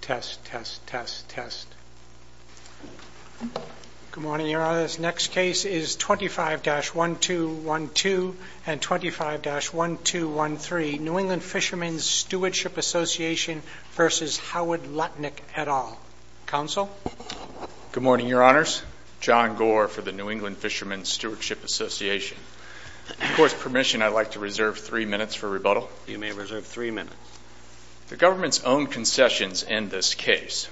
Test, test, test, test. Good morning, Your Honors. Next case is 25-1212 and 25-1213, New England Fishermen's Stewardship Association v. Howard Lutnick, et al. Counsel? Good morning, Your Honors. John Gore for the New England Fishermen's Stewardship Association. Of course, permission, I'd like to reserve three minutes for rebuttal. You may reserve three minutes. The government's own concessions in this case.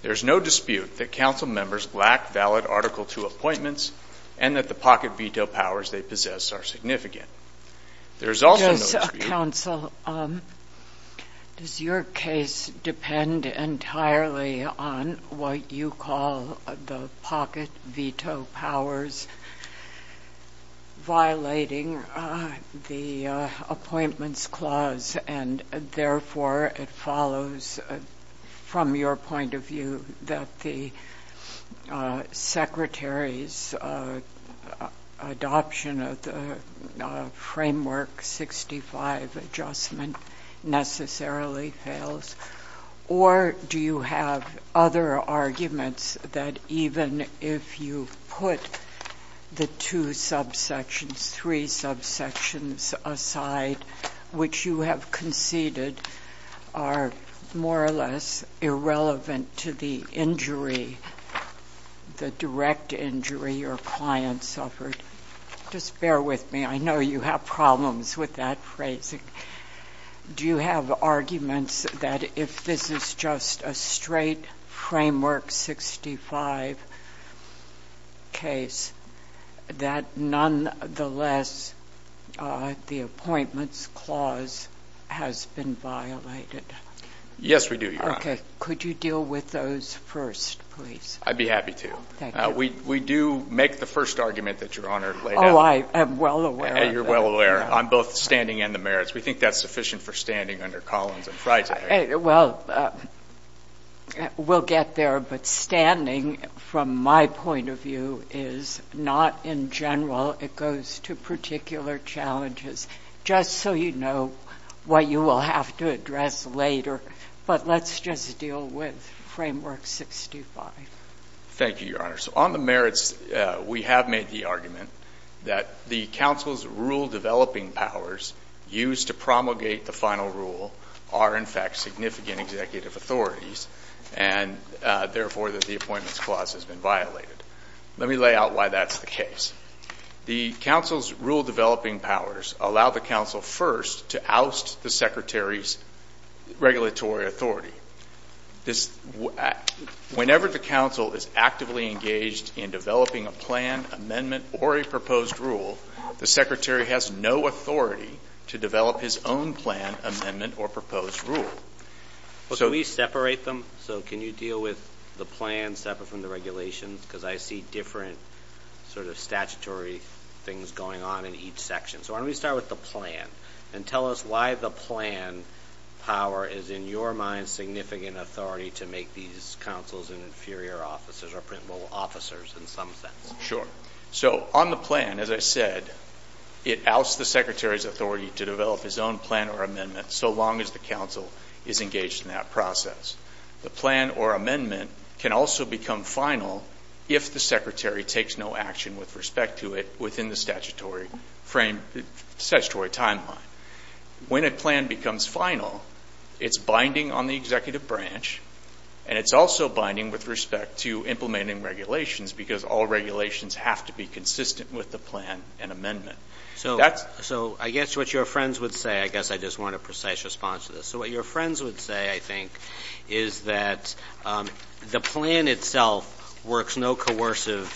There's no dispute that council members lack valid Article II appointments and that the pocket veto powers they possess are significant. There's also no dispute- Counsel, does your case depend entirely on what you call the pocket veto powers violating the appointments clause? And therefore, it follows from your point of view that the Secretary's adoption of the Framework 65 adjustment necessarily fails? Or do you have other arguments that even if you put the two subsections, three subsections aside, which you have conceded are more or less irrelevant to the injury, the direct injury your client suffered, just bear with me. I know you have problems with that phrasing. Do you have arguments that if this is just a straight Framework 65 case, that nonetheless, the appointments clause has been violated? Yes, we do, Your Honor. Could you deal with those first, please? I'd be happy to. We do make the first argument that Your Honor laid out. Oh, I am well aware of that. You're well aware. I'm both standing and the merits. We think that's sufficient for standing under Collins and Frye today. Well, we'll get there. But standing, from my point of view, is not in general. It goes to particular challenges. Just so you know what you will have to address later. But let's just deal with Framework 65. Thank you, Your Honor. So on the merits, we have made the argument that the counsel's rule-developing powers used to promulgate the final rule are, in fact, significant executive authorities, and therefore, that the appointments clause has been violated. Let me lay out why that's the case. The counsel's rule-developing powers allow the counsel first to oust the secretary's regulatory authority. Whenever the counsel is actively engaged in developing a plan, amendment, or a proposed rule, he has the authority to develop his own plan, amendment, or proposed rule. Well, can we separate them? So can you deal with the plan separate from the regulations? Because I see different sort of statutory things going on in each section. So why don't we start with the plan and tell us why the plan power is, in your mind, significant authority to make these counsels and inferior officers, or principal officers, in some sense. Sure. So on the plan, as I said, it ousts the secretary's authority to develop his own plan or amendment so long as the counsel is engaged in that process. The plan or amendment can also become final if the secretary takes no action with respect to it within the statutory frame, the statutory timeline. When a plan becomes final, it's binding on the executive branch, and it's also binding with respect to implementing regulations, because all regulations have to be consistent with the plan and amendment. So I guess what your friends would say, I guess I just want a precise response to this, so what your friends would say, I think, is that the plan itself works no coercive,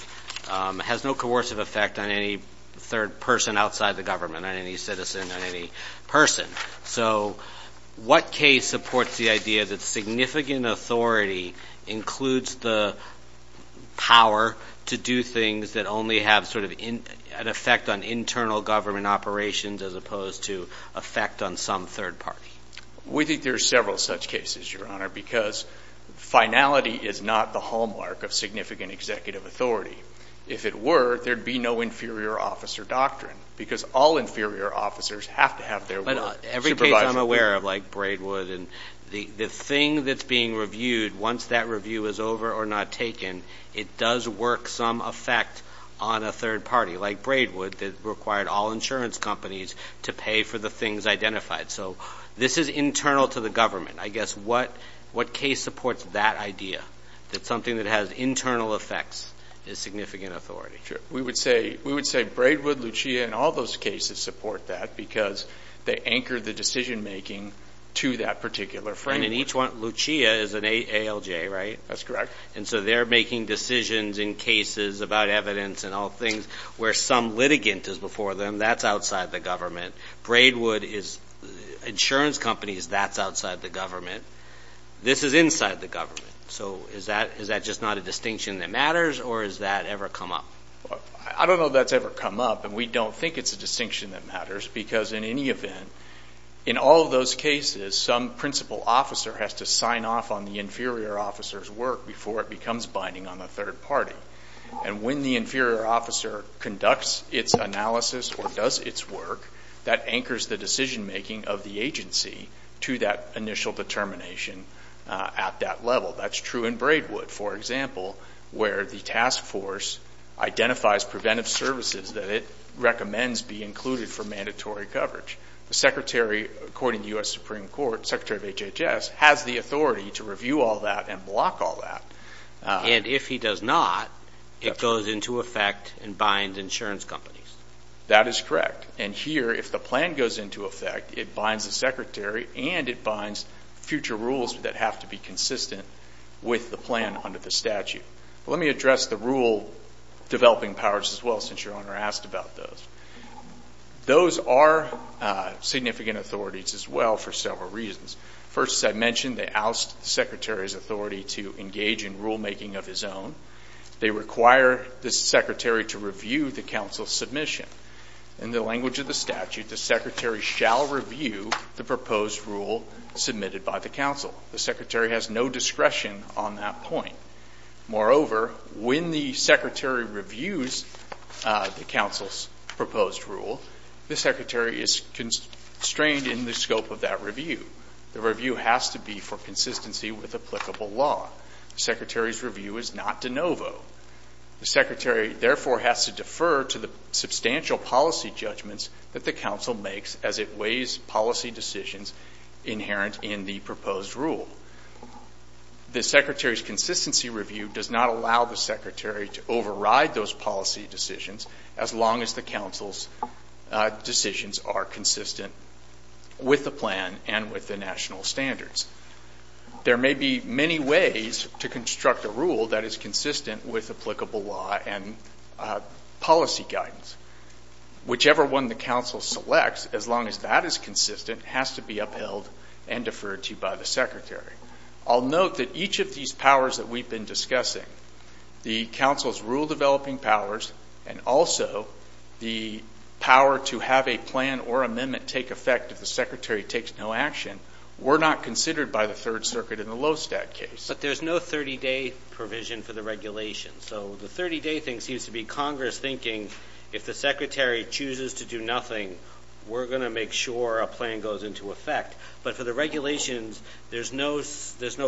has no coercive effect on any third person outside the government, on any citizen, on any person. So what case supports the idea that significant authority includes the power to do things that only have sort of an effect on internal government operations as opposed to effect on some third party? We think there's several such cases, Your Honor, because finality is not the hallmark of significant executive authority. If it were, there'd be no inferior officer doctrine, because all inferior officers have to have their work. But every case I'm aware of, like Braidwood, and the thing that's being reviewed, once that review is over or not taken, it does work some effect on a third party, like Braidwood, that required all insurance companies to pay for the things identified. So this is internal to the government. I guess what case supports that idea, that something that has internal effects is significant authority? Sure. We would say Braidwood, Lucia, and all those cases support that, because they anchor the decision-making to that particular framework. And in each one, Lucia is an ALJ, right? That's correct. And so they're making decisions in cases about evidence and all things where some litigant is before them, that's outside the government. Braidwood is insurance companies, that's outside the government. This is inside the government. So is that just not a distinction that matters, or has that ever come up? I don't know if that's ever come up, and we don't think it's a distinction that matters, because in any event, in all of those cases, some principal officer has to sign off on the inferior officer's work before it becomes binding on the third party. And when the inferior officer conducts its analysis or does its work, that anchors the decision-making of the agency to that initial determination at that level. That's true in Braidwood, for example, where the task force identifies preventive services that it recommends be included for mandatory coverage. The secretary, according to the U.S. Supreme Court, secretary of HHS, has the authority to review all that and block all that. And if he does not, it goes into effect and binds insurance companies. That is correct. And here, if the plan goes into effect, it binds the secretary and it binds future rules that have to be consistent with the plan under the statute. Let me address the rule developing powers as well, since your owner asked about those. Those are significant authorities as well for several reasons. First, as I mentioned, they oust the secretary's authority to engage in rulemaking of his own. They require the secretary to review the council's submission. In the language of the statute, the secretary shall review the proposed rule submitted by the council. The secretary has no discretion on that point. Moreover, when the secretary reviews the council's proposed rule, the secretary is constrained in the scope of that review. The review has to be for consistency with applicable law. The secretary's review is not de novo. The secretary, therefore, has to defer to the substantial policy judgments that the council makes as it weighs policy decisions inherent in the proposed rule. The secretary's consistency review does not allow the secretary to override those policy decisions as long as the council's decisions are consistent with the plan and with the national standards. There may be many ways to construct a rule that is consistent with applicable law and policy guidance. Whichever one the council selects, as long as that is consistent, has to be upheld and deferred to by the secretary. I'll note that each of these powers that we've been discussing, the council's rule-developing powers, and also the power to have a plan or amendment take effect if the secretary takes no action, were not considered by the Third Circuit in the Lowstadt case. But there's no 30-day provision for the regulation. So the 30-day thing seems to be Congress thinking, if the secretary chooses to do nothing, we're going to make sure a plan goes into effect. But for the regulations, there's no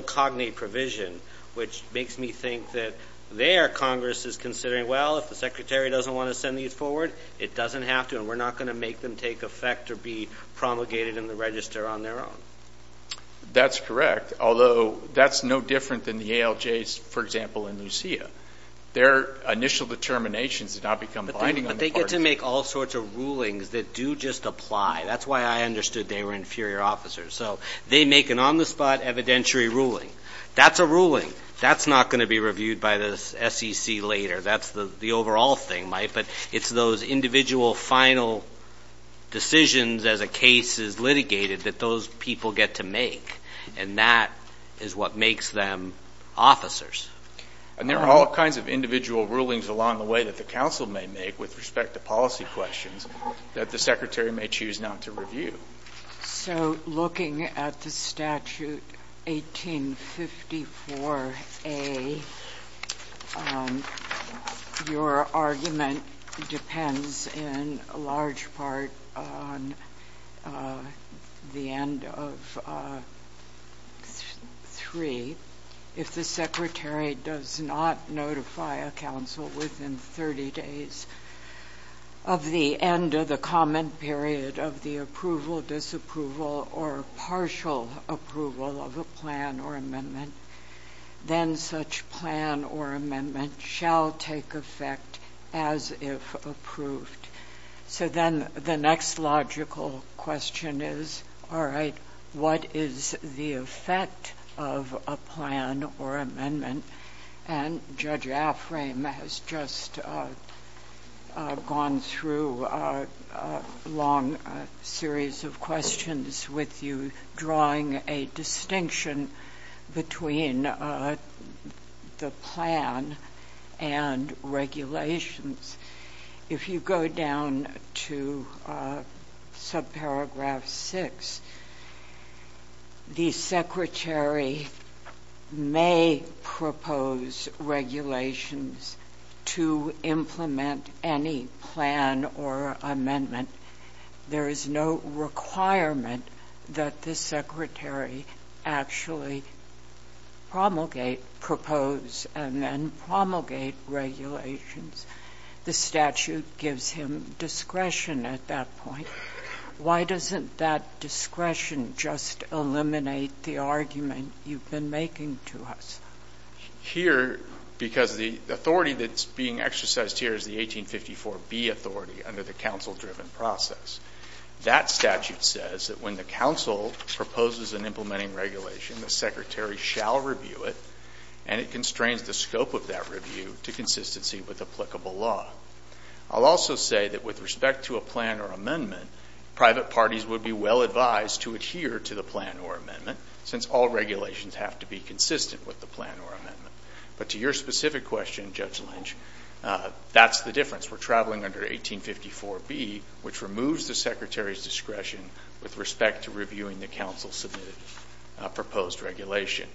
cognate provision, which makes me think that there, Congress is considering, well, if the secretary doesn't want to send these forward, it doesn't have to, and we're not going to make them take effect or be promulgated in the register on their own. That's correct. Although that's no different than the ALJs, for example, in Lucia. Their initial determinations have not become binding on the parties. But they get to make all sorts of rulings that do just apply. That's why I understood they were inferior officers. So they make an on-the-spot evidentiary ruling. That's a ruling. That's not going to be reviewed by the SEC later. That's the overall thing, Mike. But it's those individual final decisions as a case is litigated that those people get to make, and that is what makes them officers. And there are all kinds of individual rulings along the way that the council may make with respect to policy questions that the secretary may choose not to review. So looking at the statute 1854A, your argument depends in large part on the end of 3, if the secretary does not notify a council within 30 days of the end of the comment period of the approval, disapproval, or partial approval of a plan or amendment, then such plan or amendment shall take effect as if approved. So then the next logical question is, all right, what is the effect of a plan or amendment? And Judge Aframe has just gone through a long series of questions with you, drawing a distinction between the plan and regulations. If you go down to subparagraph 6, the secretary may propose regulations to implement any plan or amendment. There is no requirement that the secretary actually promulgate, propose, and then promulgate regulations. The statute gives him discretion at that point. Why doesn't that discretion just eliminate the argument you've been making to us? Here, because the authority that's being exercised here is the 1854B authority under the council-driven process. That statute says that when the council proposes an implementing regulation, the secretary shall review it, and it constrains the scope of that review to consistency with applicable law. I'll also say that with respect to a plan or amendment, private parties would be well-advised to adhere to the plan or amendment, since all regulations have to be consistent with the plan or amendment. But to your specific question, Judge Lynch, that's the difference. We're traveling under 1854B, which removes the secretary's discretion with respect to reviewing the council-submitted proposed regulation.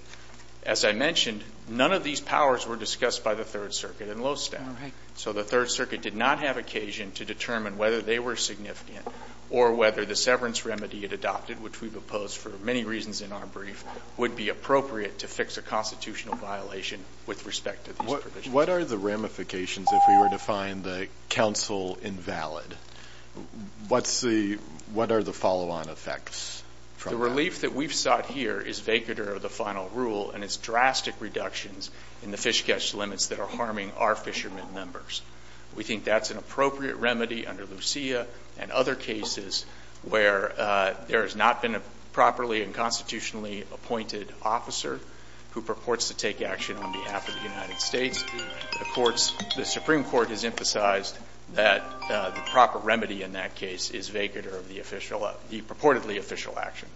As I mentioned, none of these powers were discussed by the Third Circuit in Lowstown. So the Third Circuit did not have occasion to determine whether they were significant or whether the severance remedy it adopted, which we've opposed for many reasons in our brief, would be appropriate to fix a constitutional violation with respect to these provisions. What are the ramifications if we were to find the council invalid? What's the – what are the follow-on effects from that? The relief that we've sought here is vacatur of the final rule and its drastic reductions in the fish catch limits that are harming our fishermen members. We think that's an appropriate remedy under Lucia and other cases where there has not been a properly and constitutionally appointed officer who purports to take action on behalf of the United States. The courts – the Supreme Court has emphasized that the proper remedy in that case is vacatur of the official – the purportedly official action.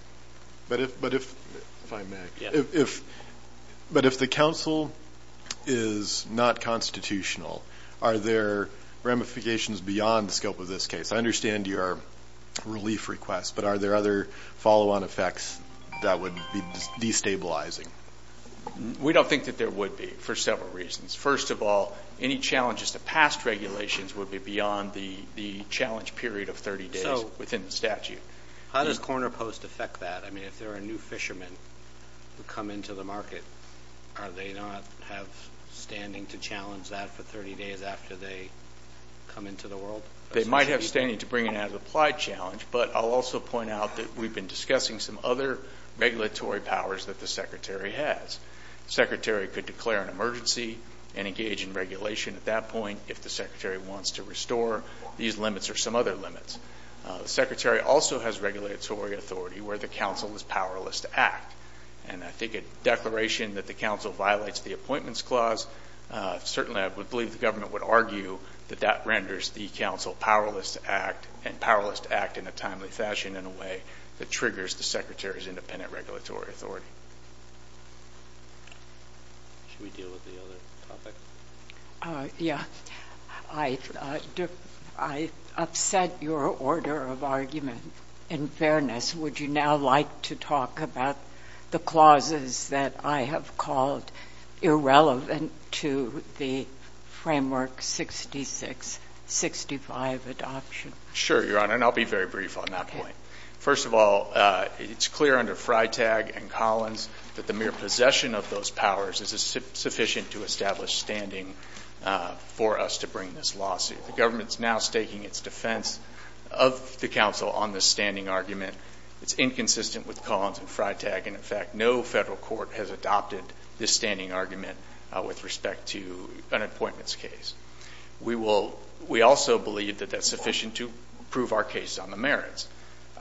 But if – but if – if I may. Yeah. If – but if the council is not constitutional, are there ramifications beyond the scope of this case? I understand your relief request, but are there other follow-on effects that would be destabilizing? We don't think that there would be for several reasons. First of all, any challenges to past regulations would be beyond the challenge period of 30 days within the statute. How does Corner Post affect that? I mean, if there are new fishermen who come into the market, are they not have standing to challenge that for 30 days after they come into the world? They might have standing to bring it as an applied challenge, but I'll also point out that we've been discussing some other regulatory powers that the Secretary has. The Secretary could declare an emergency and engage in regulation at that point if the Secretary wants to restore these limits or some other limits. The Secretary also has regulatory authority where the council is powerless to act. And I think a declaration that the council violates the Appointments Clause, certainly I would believe the government would argue that that renders the council powerless to act and powerless to act in a timely fashion in a way that triggers the Secretary's independent regulatory authority. Should we deal with the other topic? Yeah. I upset your order of argument. In fairness, would you now like to talk about the clauses that I have called irrelevant to the Framework 66-65 adoption? Sure, Your Honor, and I'll be very brief on that point. First of all, it's clear under Freitag and Collins that the mere possession of those powers is sufficient to establish standing for us to bring this lawsuit. The government's now staking its defense of the council on this standing argument. It's inconsistent with Collins and Freitag, and in fact, no federal court has adopted this standing argument with respect to an appointments case. We also believe that that's sufficient to prove our case on the merits.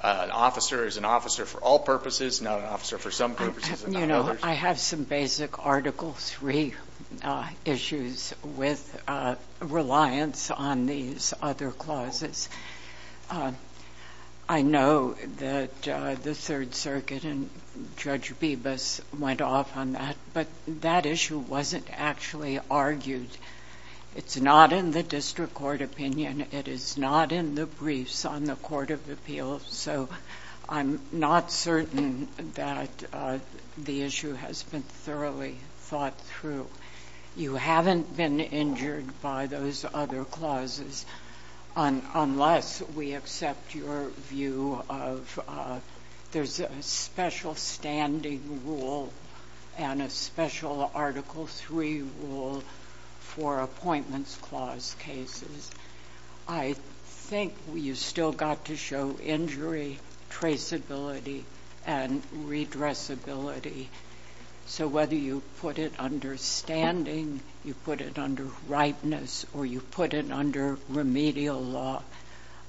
An officer is an officer for all purposes, not an officer for some purposes and not others. I have some basic Article III issues with reliance on these other clauses. I know that the Third Circuit and Judge Bibas went off on that, but that issue wasn't actually argued. It's not in the district court opinion. It is not in the briefs on the Court of Appeals. So I'm not certain that the issue has been thoroughly thought through. You haven't been injured by those other clauses unless we accept your view of there's a special standing rule and a special Article III rule for appointments clause cases. I think you still got to show injury, traceability, and redressability. So whether you put it under standing, you put it under rightness, or you put it under remedial law,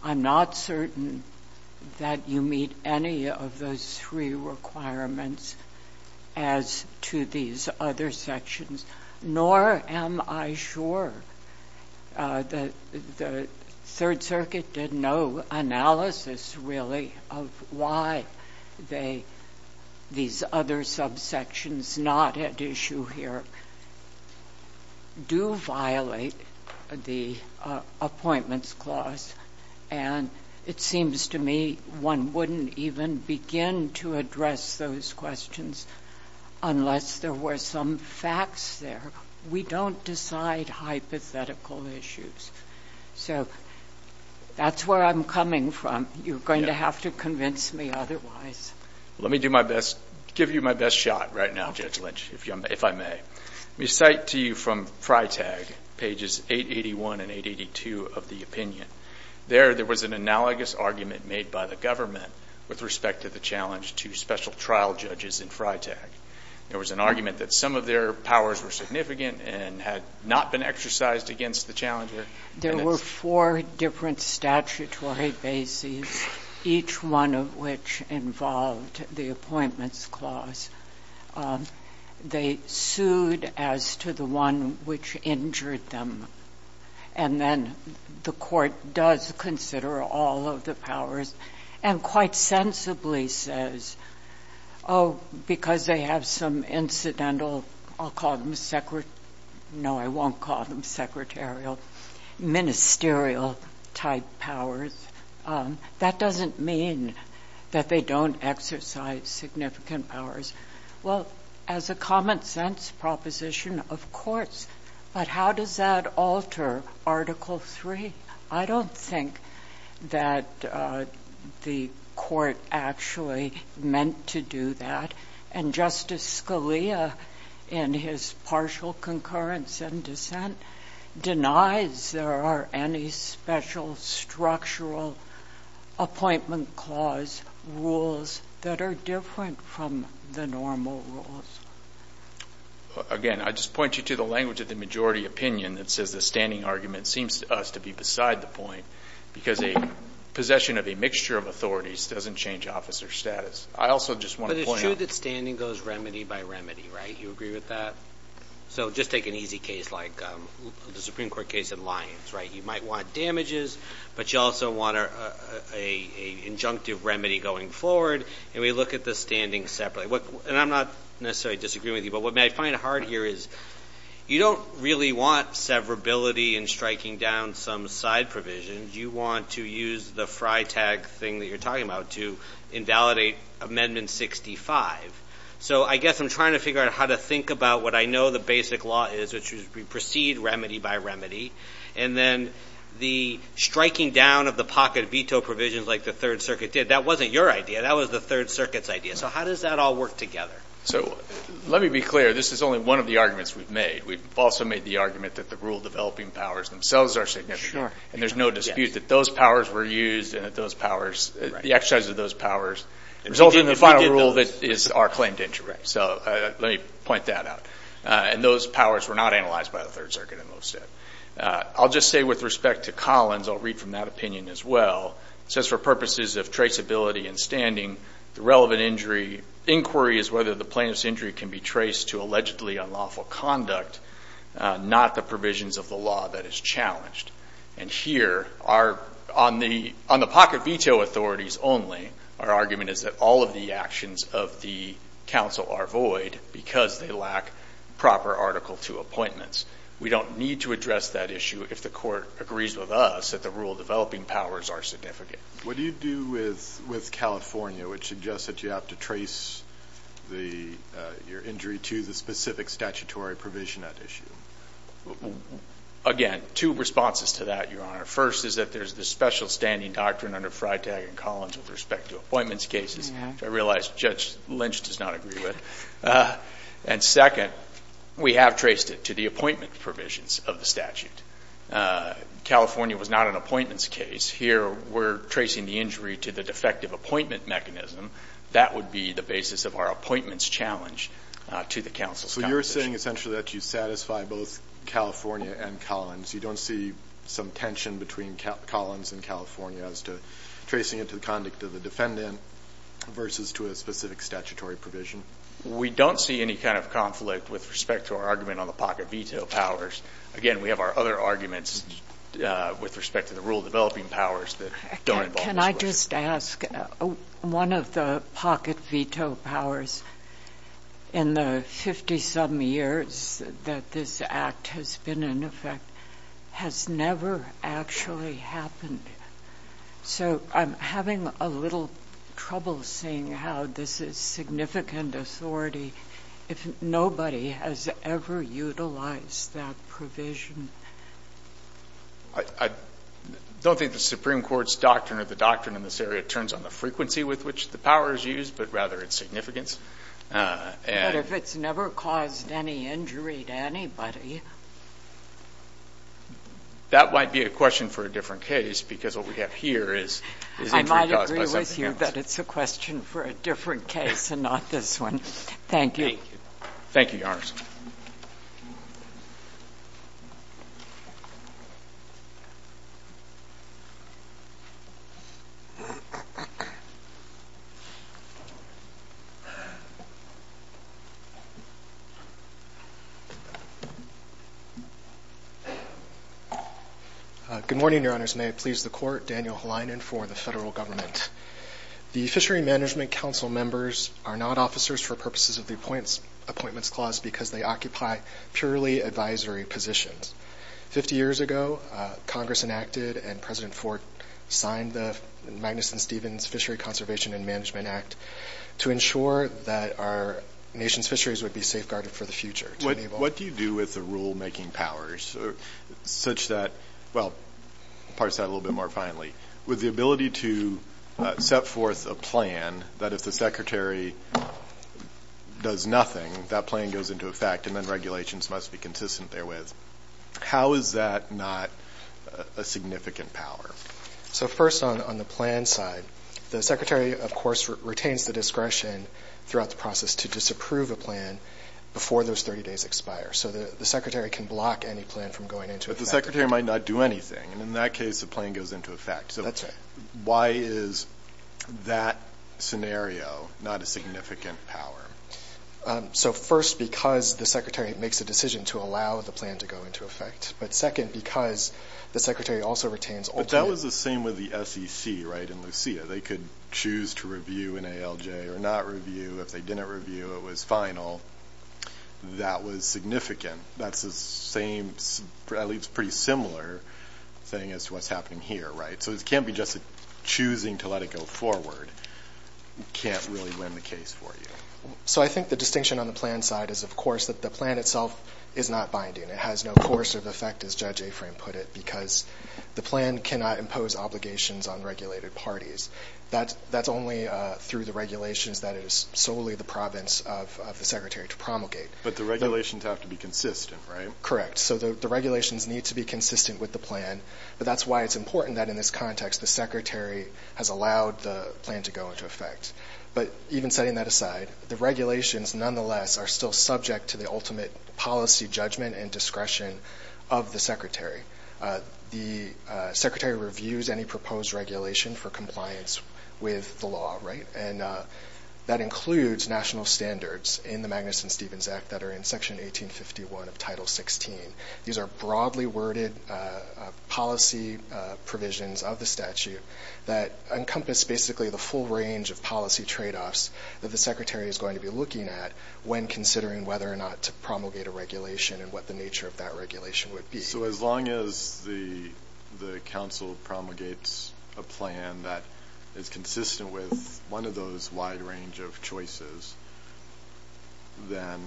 I'm not certain that you meet any of those three requirements as to these other sections, nor am I sure that the Third Circuit did no analysis, really, of why these other subsections not at issue here do violate the appointments clause. And it seems to me one wouldn't even begin to address those questions unless there were some facts there. We don't decide hypothetical issues. So that's where I'm coming from. You're going to have to convince me otherwise. Let me do my best, give you my best shot right now, Judge Lynch, if I may. Let me cite to you from FRITAG pages 881 and 882 of the opinion. There there was an analogous argument made by the government with respect to the challenge to special trial judges in FRITAG. There was an argument that some of their powers were significant and had not been exercised against the challenger. There were four different statutory bases, each one of which involved the appointments clause. They sued as to the one which injured them. And then the court does consider all of the powers and quite sensibly says, oh, because they have some incidental, I'll call them secret, no, I won't call them secretarial, ministerial-type powers, that doesn't mean that they don't exercise significant powers. Well, as a common sense proposition, of course. But how does that alter Article III? I don't think that the court actually meant to do that. And Justice Scalia, in his partial concurrence and dissent, denies there are any special structural appointment clause rules that are different from the normal rules. Again, I just point you to the language of the majority opinion that says the standing argument seems to us to be beside the point, because a possession of a mixture of authorities doesn't change officer status. I also just want to point out- But it's true that standing goes remedy by remedy, right? You agree with that? So just take an easy case like the Supreme Court case in Lyons, right? You might want damages, but you also want an injunctive remedy going forward. And we look at the standing separately. And I'm not necessarily disagreeing with you, but what I find hard here is you don't really want severability and striking down some side provision. You want to use the fry tag thing that you're talking about to invalidate Amendment 65. So I guess I'm trying to figure out how to think about what I know the basic law is, which is we proceed remedy by remedy. And then the striking down of the pocket veto provisions like the Third Circuit did, that wasn't your idea. That was the Third Circuit's idea. So how does that all work together? So let me be clear. This is only one of the arguments we've made. We've also made the argument that the rule-developing powers themselves are significant, and there's no dispute that those powers were used and that those powers, the exercise of those powers resulted in the final rule that is our claim to interest. So let me point that out. And those powers were not analyzed by the Third Circuit in those steps. I'll just say with respect to Collins, I'll read from that opinion as well. It says, for purposes of traceability and standing, the relevant inquiry is whether the plaintiff's injury can be traced to allegedly unlawful conduct, not the provisions of the law that is challenged. And here, on the pocket veto authorities only, our argument is that all of the actions of the counsel are void because they lack proper Article II appointments. We don't need to address that issue if the court agrees with us that the rule- developing powers are significant. What do you do with California, which suggests that you have to trace your injury to the specific statutory provision at issue? Again, two responses to that, Your Honor. First is that there's the special standing doctrine under Freitag and Collins with respect to appointments cases, which I realize Judge Lynch does not agree with. And second, we have traced it to the appointment provisions of the statute. California was not an appointments case. Here, we're tracing the injury to the defective appointment mechanism. That would be the basis of our appointments challenge to the counsel's composition. So you're saying essentially that you satisfy both California and Collins. You don't see some tension between Collins and California as to tracing it to the conduct of the defendant versus to a specific statutory provision? We don't see any kind of conflict with respect to our argument on the pocket veto powers. Again, we have our other arguments with respect to the rule-developing powers that don't involve this question. Can I just ask, one of the pocket veto powers in the 50-some years that this act has been in effect has never actually happened. So I'm having a little trouble seeing how this is significant authority if nobody has ever utilized that provision. I don't think the Supreme Court's doctrine or the doctrine in this area turns on the frequency with which the power is used, but rather its significance. But if it's never caused any injury to anybody. That might be a question for a different case, because what we have here is... I might agree with you that it's a question for a different case and not this one. Thank you. Thank you, Your Honor. Good morning, Your Honors. May it please the Court, Daniel Helinen for the federal government. The Fishery Management Council members are not officers for purposes of the Appointments Clause because they occupy purely advisory positions. Fifty years ago, Congress enacted and President Ford signed the Magnuson-Stevens Fishery Conservation and Management Act to ensure that our nation's fisheries would be safeguarded for the future. What do you do with the rule-making powers such that... Well, parse that a little bit more finally. With the ability to set forth a plan that if the Secretary does nothing, that plan goes into effect and then regulations must be consistent therewith, how is that not a significant power? So first on the plan side, the Secretary, of course, retains the discretion throughout the process to disapprove a plan before those 30 days expire. So the Secretary can block any plan from going into effect. But the Secretary might not do anything, and in that case, the plan goes into effect. So why is that scenario not a significant power? So first, because the Secretary makes a decision to allow the plan to go into effect. But second, because the Secretary also retains... But that was the same with the SEC, right, in Lucia. They could choose to review an ALJ or not review. If they didn't review, it was final. That was significant. That's the same, at least pretty similar thing as to what's happening here, right? So it can't be just choosing to let it go forward. Can't really win the case for you. So I think the distinction on the plan side is, of course, that the plan itself is not binding. It has no coercive effect, as Judge Aframe put it, because the plan cannot impose obligations on regulated parties. That's only through the regulations that it is solely the province of the Secretary to promulgate. But the regulations have to be consistent, right? Correct. So the regulations need to be consistent with the plan. But that's why it's important that, in this context, the Secretary has allowed the plan to go into effect. But even setting that aside, the regulations, nonetheless, are still subject to the ultimate policy judgment and discretion of the Secretary. The Secretary reviews any proposed regulation for compliance with the law, right? And that includes national standards in the Magnuson-Stevens Act that are in Section 1851 of Title 16. These are broadly worded policy provisions of the statute that encompass basically the full range of policy tradeoffs that the Secretary is going to be looking at when considering whether or not to promulgate a regulation and what the nature of that regulation would be. So as long as the Council promulgates a plan that is consistent with one of those wide range of choices, then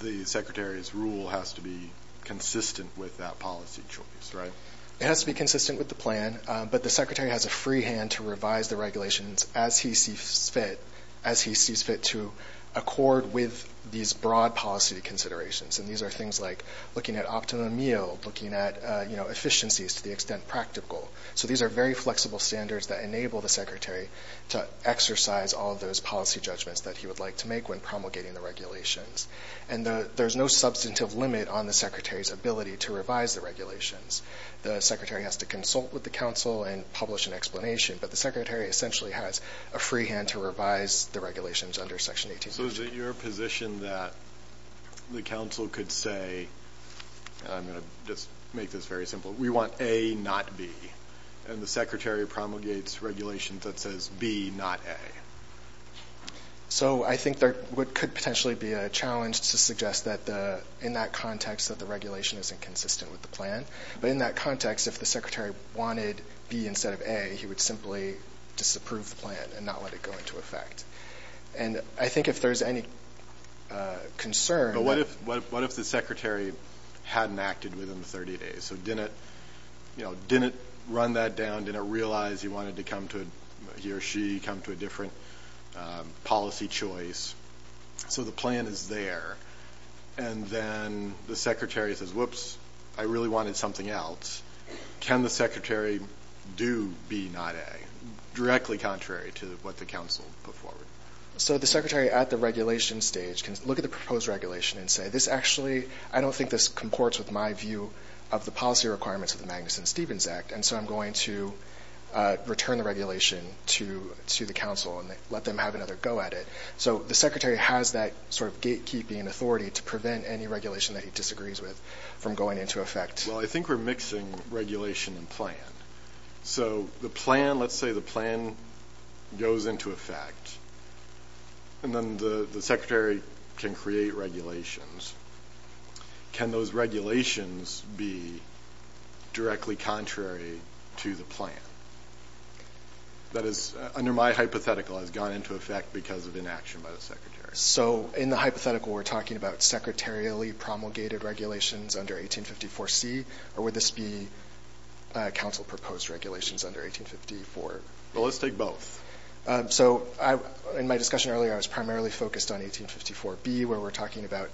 the Secretary's rule has to be consistent with that policy choice, right? It has to be consistent with the plan. But the Secretary has a free hand to revise the regulations as he sees fit, as he sees fit to accord with these broad policy considerations. And these are things like looking at optimum yield, looking at efficiencies to the extent practical. So these are very flexible standards that enable the Secretary to exercise all of those policy judgments that he would like to make when promulgating the regulations. And there's no substantive limit on the Secretary's ability to revise the regulations. The Secretary has to consult with the Council and publish an explanation. But the Secretary essentially has a free hand to revise the regulations under Section 1852. So is it your position that the Council could say, and I'm going to just make this very simple, we want A, not B, and the Secretary promulgates regulations that says B, not A? So I think there could potentially be a challenge to suggest that in that context that the regulation isn't consistent with the plan. But in that context, if the Secretary wanted B instead of A, he would simply disapprove the plan and not let it go into effect. And I think if there's any concern – But what if the Secretary hadn't acted within the 30 days? So didn't run that down, didn't realize he wanted to come to a – he or she come to a different policy choice? So the plan is there. And then the Secretary says, whoops, I really wanted something else. Can the Secretary do B, not A, directly contrary to what the Council put forward? So the Secretary at the regulation stage can look at the proposed regulation and say, this actually – I don't think this comports with my view of the policy requirements of the Magnuson-Stevens Act, and so I'm going to return the regulation to the Council and let them have another go at it. So the Secretary has that sort of gatekeeping authority to prevent any regulation that he disagrees with from going into effect. Well, I think we're mixing regulation and plan. So the plan – let's say the plan goes into effect, and then the Secretary can create regulations. Can those regulations be directly contrary to the plan? That is, under my hypothetical, has gone into effect because of inaction by the Secretary. So in the hypothetical, we're talking about secretarially promulgated regulations under 1854C, or would this be Council-proposed regulations under 1854? Well, let's take both. So in my discussion earlier, I was primarily focused on 1854B, where we're talking about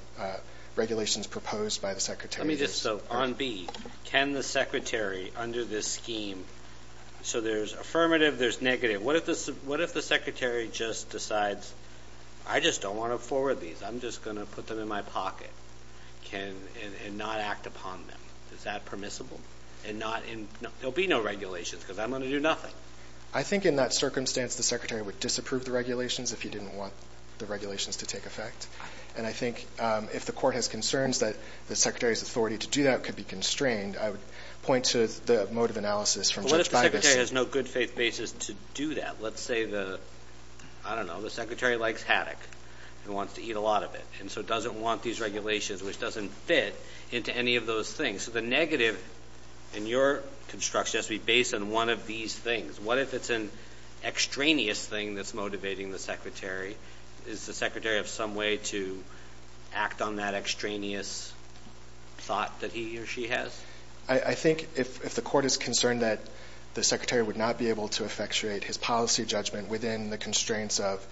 regulations proposed by the Secretary. Let me just – so on B, can the Secretary, under this scheme – so there's affirmative, there's negative. Okay. What if the Secretary just decides, I just don't want to forward these, I'm just going to put them in my pocket, and not act upon them? Is that permissible? And not – there will be no regulations because I'm going to do nothing. I think in that circumstance, the Secretary would disapprove the regulations if he didn't want the regulations to take effect. And I think if the Court has concerns that the Secretary's authority to do that could be constrained, I would point to the motive analysis from Judge Bagus. But the Secretary has no good faith basis to do that. Let's say the – I don't know, the Secretary likes haddock and wants to eat a lot of it, and so doesn't want these regulations, which doesn't fit, into any of those things. So the negative in your construction has to be based on one of these things. What if it's an extraneous thing that's motivating the Secretary? Is the Secretary of some way to act on that extraneous thought that he or she has? I think if the Court is concerned that the Secretary would not be able to effectuate his policy judgment within the constraints of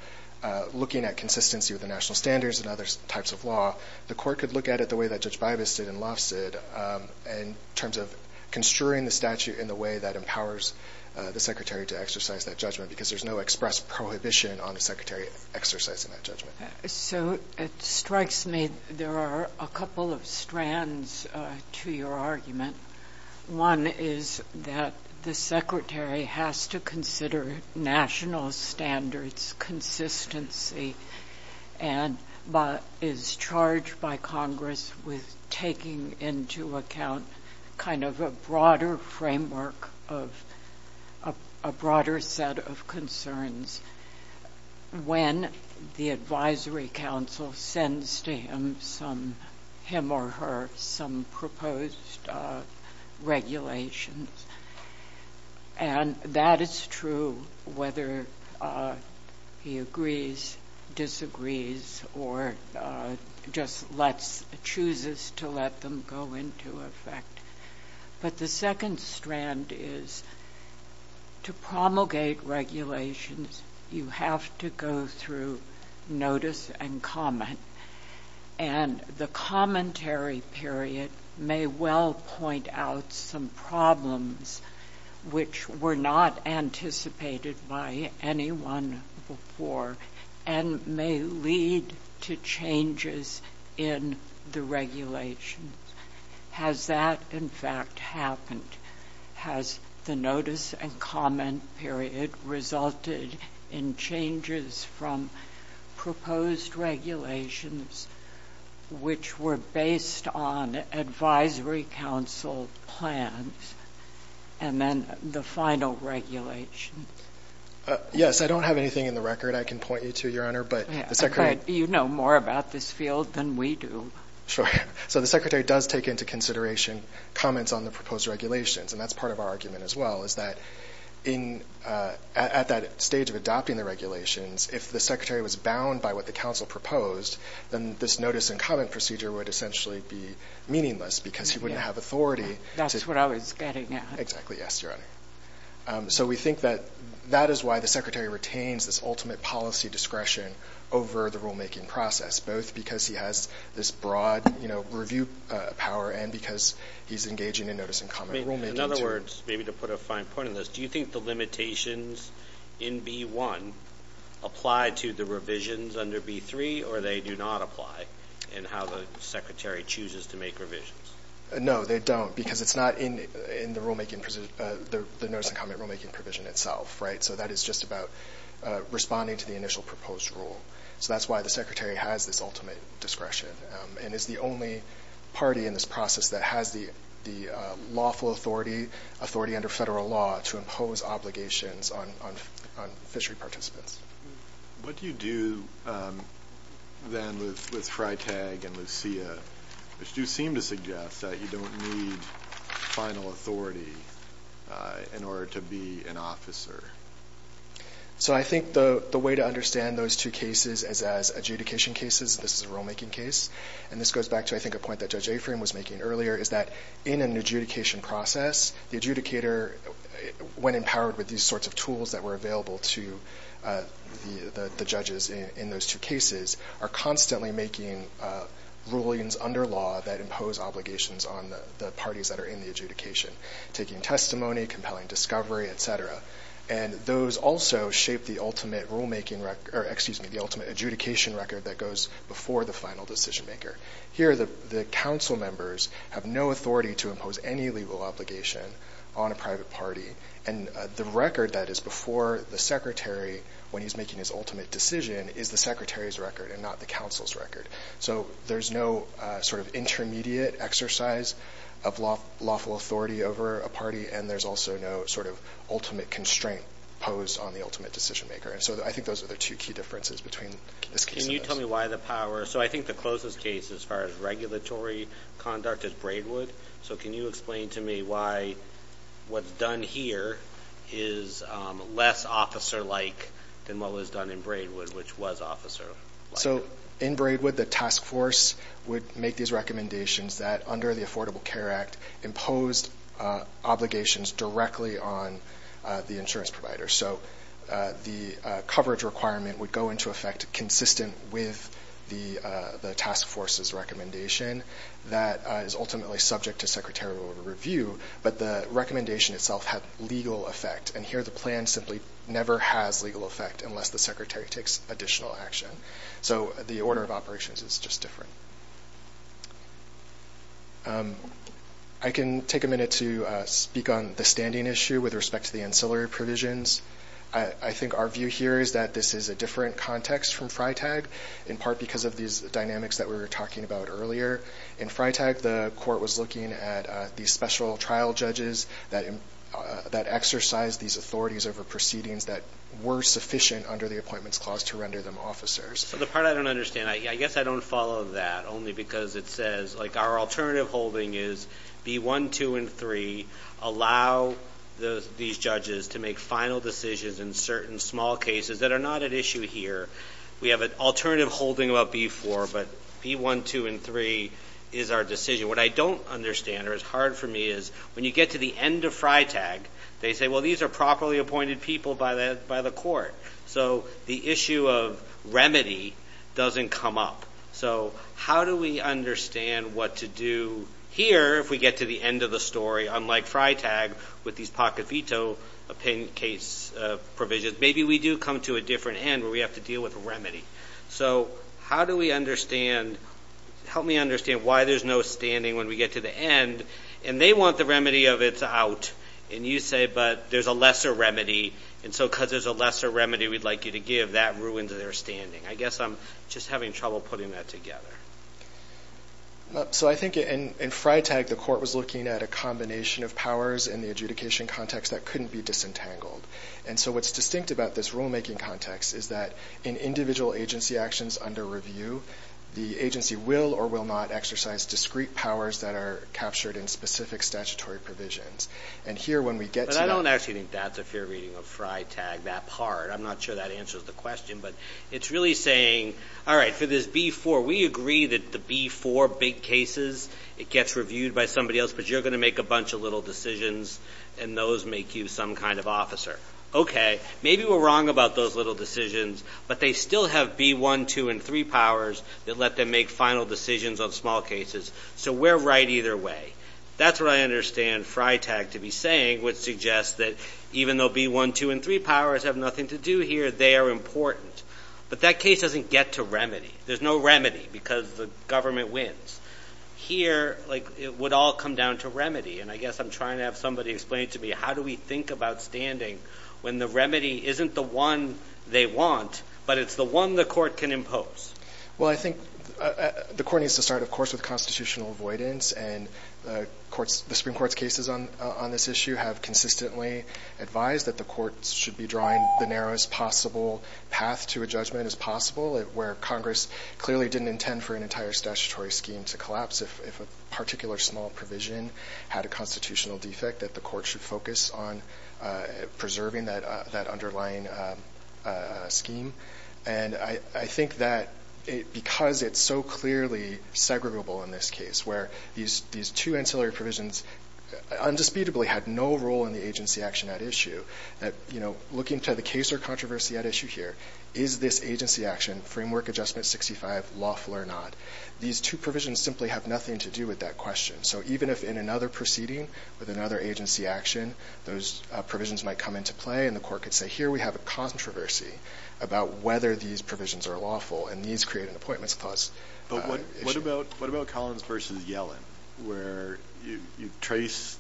looking at consistency with the national standards and other types of law, the Court could look at it the way that Judge Bagus did and Lofts did, in terms of construing the statute in the way that empowers the Secretary to exercise that judgment because there's no express prohibition on the Secretary exercising that judgment. So it strikes me there are a couple of strands to your argument. One is that the Secretary has to consider national standards consistency and is charged by Congress with taking into account kind of a broader framework of a broader set of concerns when the Advisory Council sends to him or her some proposed regulations. And that is true whether he agrees, disagrees, or just chooses to let them go into effect. But the second strand is to promulgate regulations, you have to go through notice and comment. And the commentary period may well point out some problems which were not anticipated by anyone before and may lead to changes in the regulations. Has that, in fact, happened? Has the notice and comment period resulted in changes from proposed regulations which were based on Advisory Council plans and then the final regulations? Yes. I don't have anything in the record I can point you to, Your Honor. But you know more about this field than we do. Sure. So the Secretary does take into consideration comments on the proposed regulations, and that's part of our argument as well is that at that stage of adopting the regulations, if the Secretary was bound by what the Council proposed, then this notice and comment procedure would essentially be meaningless because he wouldn't have authority. That's what I was getting at. Exactly, yes, Your Honor. So we think that that is why the Secretary retains this ultimate policy discretion over the rulemaking process, both because he has this broad review power and because he's engaging in notice and comment rulemaking. In other words, maybe to put a fine point on this, do you think the limitations in B.1 apply to the revisions under B.3, or they do not apply in how the Secretary chooses to make revisions? No, they don't because it's not in the notice and comment rulemaking provision itself. So that is just about responding to the initial proposed rule. So that's why the Secretary has this ultimate discretion and is the only party in this process that has the lawful authority, authority under federal law to impose obligations on fishery participants. What do you do then with Freitag and Lucia, which do seem to suggest that you don't need final authority in order to be an officer? So I think the way to understand those two cases as adjudication cases, this is a rulemaking case, and this goes back to I think a point that Judge Aframe was making earlier, is that in an adjudication process, the adjudicator, when empowered with these sorts of tools that were available to the judges in those two cases, are constantly making rulings under law that impose obligations on the parties that are in the adjudication, taking testimony, compelling discovery, et cetera. And those also shape the ultimate rulemaking record, or excuse me, the ultimate adjudication record that goes before the final decision maker. Here the council members have no authority to impose any legal obligation on a private party, and the record that is before the secretary when he's making his ultimate decision is the secretary's record and not the council's record. So there's no sort of intermediate exercise of lawful authority over a party, and there's also no sort of ultimate constraint posed on the ultimate decision maker. And so I think those are the two key differences between this case and this. Can you tell me why the power – so I think the closest case as far as regulatory conduct is Braidwood. So can you explain to me why what's done here is less officer-like than what was done in Braidwood, which was officer-like? So in Braidwood the task force would make these recommendations that, under the Affordable Care Act, imposed obligations directly on the insurance provider. So the coverage requirement would go into effect consistent with the task force's recommendation. That is ultimately subject to secretarial review, but the recommendation itself had legal effect. And here the plan simply never has legal effect unless the secretary takes additional action. So the order of operations is just different. I can take a minute to speak on the standing issue with respect to the ancillary provisions. I think our view here is that this is a different context from FriTag, in part because of these dynamics that we were talking about earlier. In FriTag the court was looking at these special trial judges that exercised these authorities over proceedings that were sufficient under the Appointments Clause to render them officers. So the part I don't understand, I guess I don't follow that only because it says, like our alternative holding is B-1, 2, and 3 allow these judges to make final decisions in certain small cases that are not at issue here. We have an alternative holding about B-4, but B-1, 2, and 3 is our decision. What I don't understand or is hard for me is when you get to the end of FriTag, they say, well, these are properly appointed people by the court. So the issue of remedy doesn't come up. So how do we understand what to do here if we get to the end of the story, unlike FriTag with these pocket veto case provisions? Maybe we do come to a different end where we have to deal with remedy. So how do we understand, help me understand why there's no standing when we get to the end, and they want the remedy of it's out, and you say, but there's a lesser remedy, and so because there's a lesser remedy we'd like you to give, that ruins their standing. I guess I'm just having trouble putting that together. So I think in FriTag the court was looking at a combination of powers in the adjudication context that couldn't be disentangled. And so what's distinct about this rulemaking context is that in individual agency actions under review, the agency will or will not exercise discrete powers that are captured in specific statutory provisions. And here when we get to the end. But I don't actually think that's a fair reading of FriTag, that part. I'm not sure that answers the question, but it's really saying, all right, for this B-4, we agree that the B-4 big cases, it gets reviewed by somebody else, but you're going to make a bunch of little decisions, and those make you some kind of officer. Okay, maybe we're wrong about those little decisions, but they still have B-1, 2, and 3 powers that let them make final decisions on small cases. So we're right either way. That's what I understand FriTag to be saying, which suggests that even though B-1, 2, and 3 powers have nothing to do here, they are important. But that case doesn't get to remedy. There's no remedy because the government wins. Here, like, it would all come down to remedy. And I guess I'm trying to have somebody explain to me, how do we think about standing when the remedy isn't the one they want, but it's the one the court can impose? Well, I think the court needs to start, of course, with constitutional avoidance. And the courts, the Supreme Court's cases on this issue have consistently advised that the courts should be drawing the narrowest possible path to a judgment as possible, where Congress clearly didn't intend for an entire statutory scheme to collapse if a particular small provision had a constitutional defect, that the court should focus on preserving that underlying scheme. And I think that because it's so clearly segregable in this case, where these two ancillary provisions undisputably had no role in the agency action at issue, that, you know, looking to the case or controversy at issue here, is this agency action, Framework Adjustment 65, lawful or not? These two provisions simply have nothing to do with that question. So even if in another proceeding with another agency action, those provisions might come into play, and the court could say, here we have a controversy about whether these provisions are lawful, and these create an appointments clause. But what about Collins v. Yellen, where you trace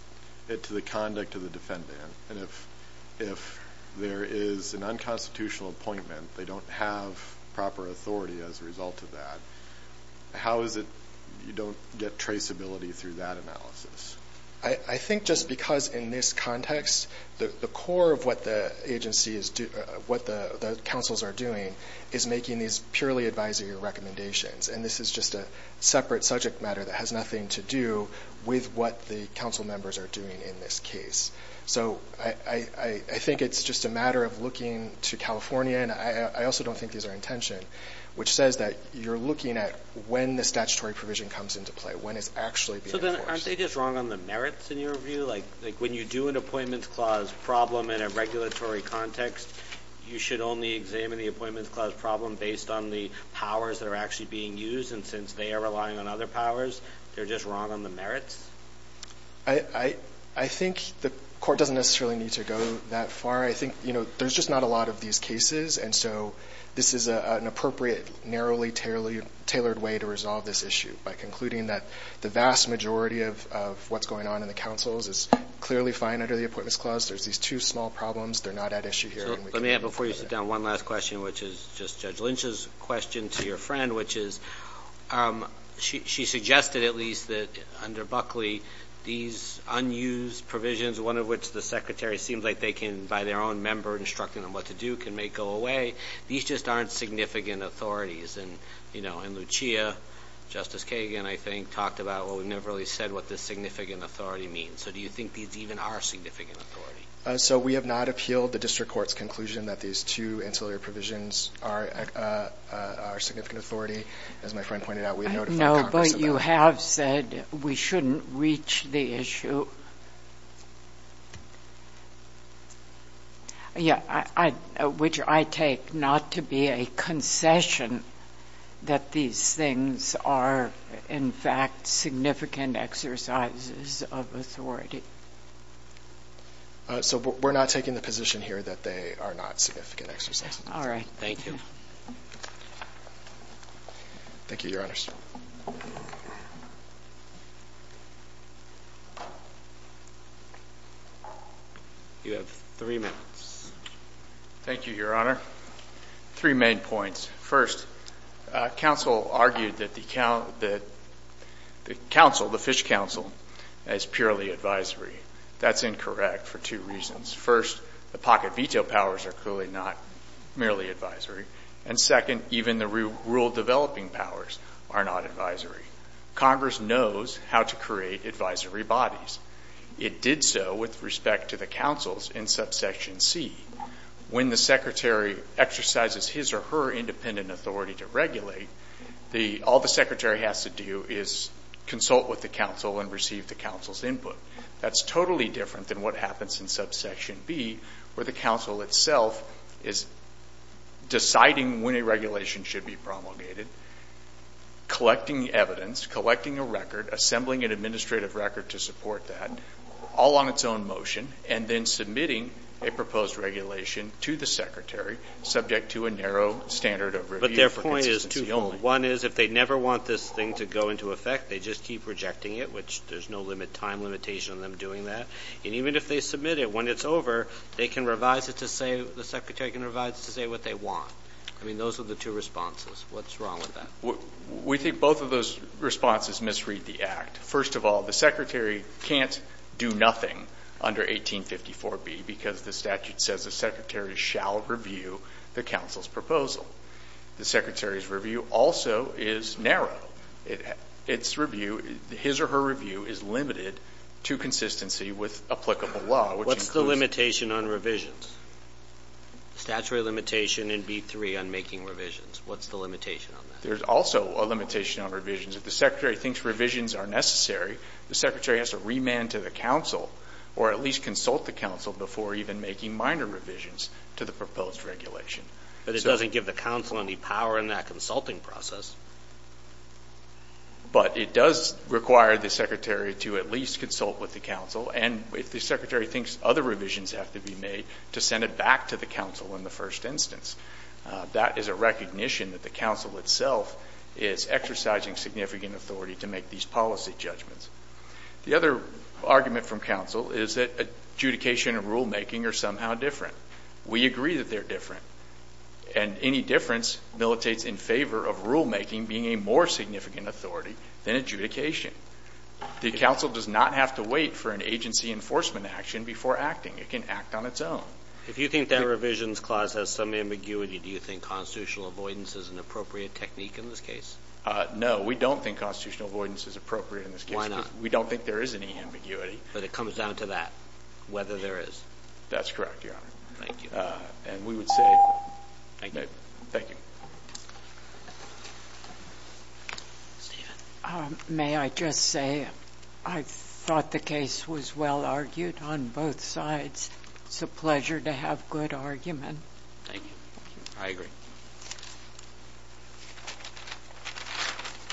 it to the conduct of the defendant, and if there is an unconstitutional appointment, they don't have proper authority as a result of that, how is it you don't get traceability through that analysis? I think just because in this context, the core of what the agency is doing, what the councils are doing, is making these purely advisory recommendations. And this is just a separate subject matter that has nothing to do with what the council members are doing in this case. So I think it's just a matter of looking to California, and I also don't think these are intention, which says that you're looking at when the statutory provision comes into play, when it's actually being enforced. So then aren't they just wrong on the merits in your view? Like when you do an appointments clause problem in a regulatory context, you should only examine the appointments clause problem based on the powers that are actually being used, and since they are relying on other powers, they're just wrong on the merits? I think the court doesn't necessarily need to go that far. I think, you know, there's just not a lot of these cases, and so this is an appropriate narrowly tailored way to resolve this issue, by concluding that the vast majority of what's going on in the councils is clearly fine under the appointments clause. There's these two small problems. They're not at issue here. Let me add before you sit down one last question, which is just Judge Lynch's question to your friend, which is she suggested at least that under Buckley, these unused provisions, one of which the Secretary seems like they can, by their own member instructing them what to do, can make go away. These just aren't significant authorities. And, you know, in Lucia, Justice Kagan, I think, talked about, well, we've never really said what this significant authority means. So do you think these even are significant authority? So we have not appealed the district court's conclusion that these two ancillary provisions are significant authority. As my friend pointed out, we notified Congress of that. No, but you have said we shouldn't reach the issue, which I take not to be a concession, that these things are in fact significant exercises of authority. So we're not taking the position here that they are not significant exercises. All right. Thank you. Thank you, Your Honors. You have three minutes. Thank you, Your Honor. Three main points. First, counsel argued that the council, the Fish Council, is purely advisory. That's incorrect for two reasons. First, the pocket veto powers are clearly not merely advisory. And second, even the rule developing powers are not advisory. Congress knows how to create advisory bodies. It did so with respect to the councils in subsection C. When the secretary exercises his or her independent authority to regulate, all the secretary has to do is consult with the council and receive the council's input. That's totally different than what happens in subsection B, where the council itself is deciding when a regulation should be promulgated, collecting evidence, collecting a record, assembling an administrative record to support that, all on its own motion, and then submitting a proposed regulation to the secretary, subject to a narrow standard of review for consistency only. But their point is twofold. One is if they never want this thing to go into effect, they just keep rejecting it, which there's no time limitation on them doing that. And even if they submit it, when it's over, they can revise it to say, the secretary can revise it to say what they want. I mean, those are the two responses. What's wrong with that? We think both of those responses misread the act. First of all, the secretary can't do nothing under 1854b because the statute says the secretary shall review the council's proposal. The secretary's review also is narrow. Its review, his or her review, is limited to consistency with applicable law, which includes What's the limitation on revisions? Statutory limitation in B3 on making revisions. What's the limitation on that? There's also a limitation on revisions. If the secretary thinks revisions are necessary, the secretary has to remand to the council or at least consult the council before even making minor revisions to the proposed regulation. But it doesn't give the council any power in that consulting process. But it does require the secretary to at least consult with the council. And if the secretary thinks other revisions have to be made, to send it back to the council in the first instance. That is a recognition that the council itself is exercising significant authority to make these policy judgments. The other argument from council is that adjudication and rulemaking are somehow different. We agree that they're different. And any difference militates in favor of rulemaking being a more significant authority than adjudication. The council does not have to wait for an agency enforcement action before acting. It can act on its own. If you think the revisions clause has some ambiguity, do you think constitutional avoidance is an appropriate technique in this case? No. We don't think constitutional avoidance is appropriate in this case. Why not? Because we don't think there is any ambiguity. But it comes down to that, whether there is. That's correct, Your Honor. Thank you. And we would say... Thank you. Thank you. Stephen. May I just say I thought the case was well argued on both sides. It's a pleasure to have good argument. Thank you. I agree.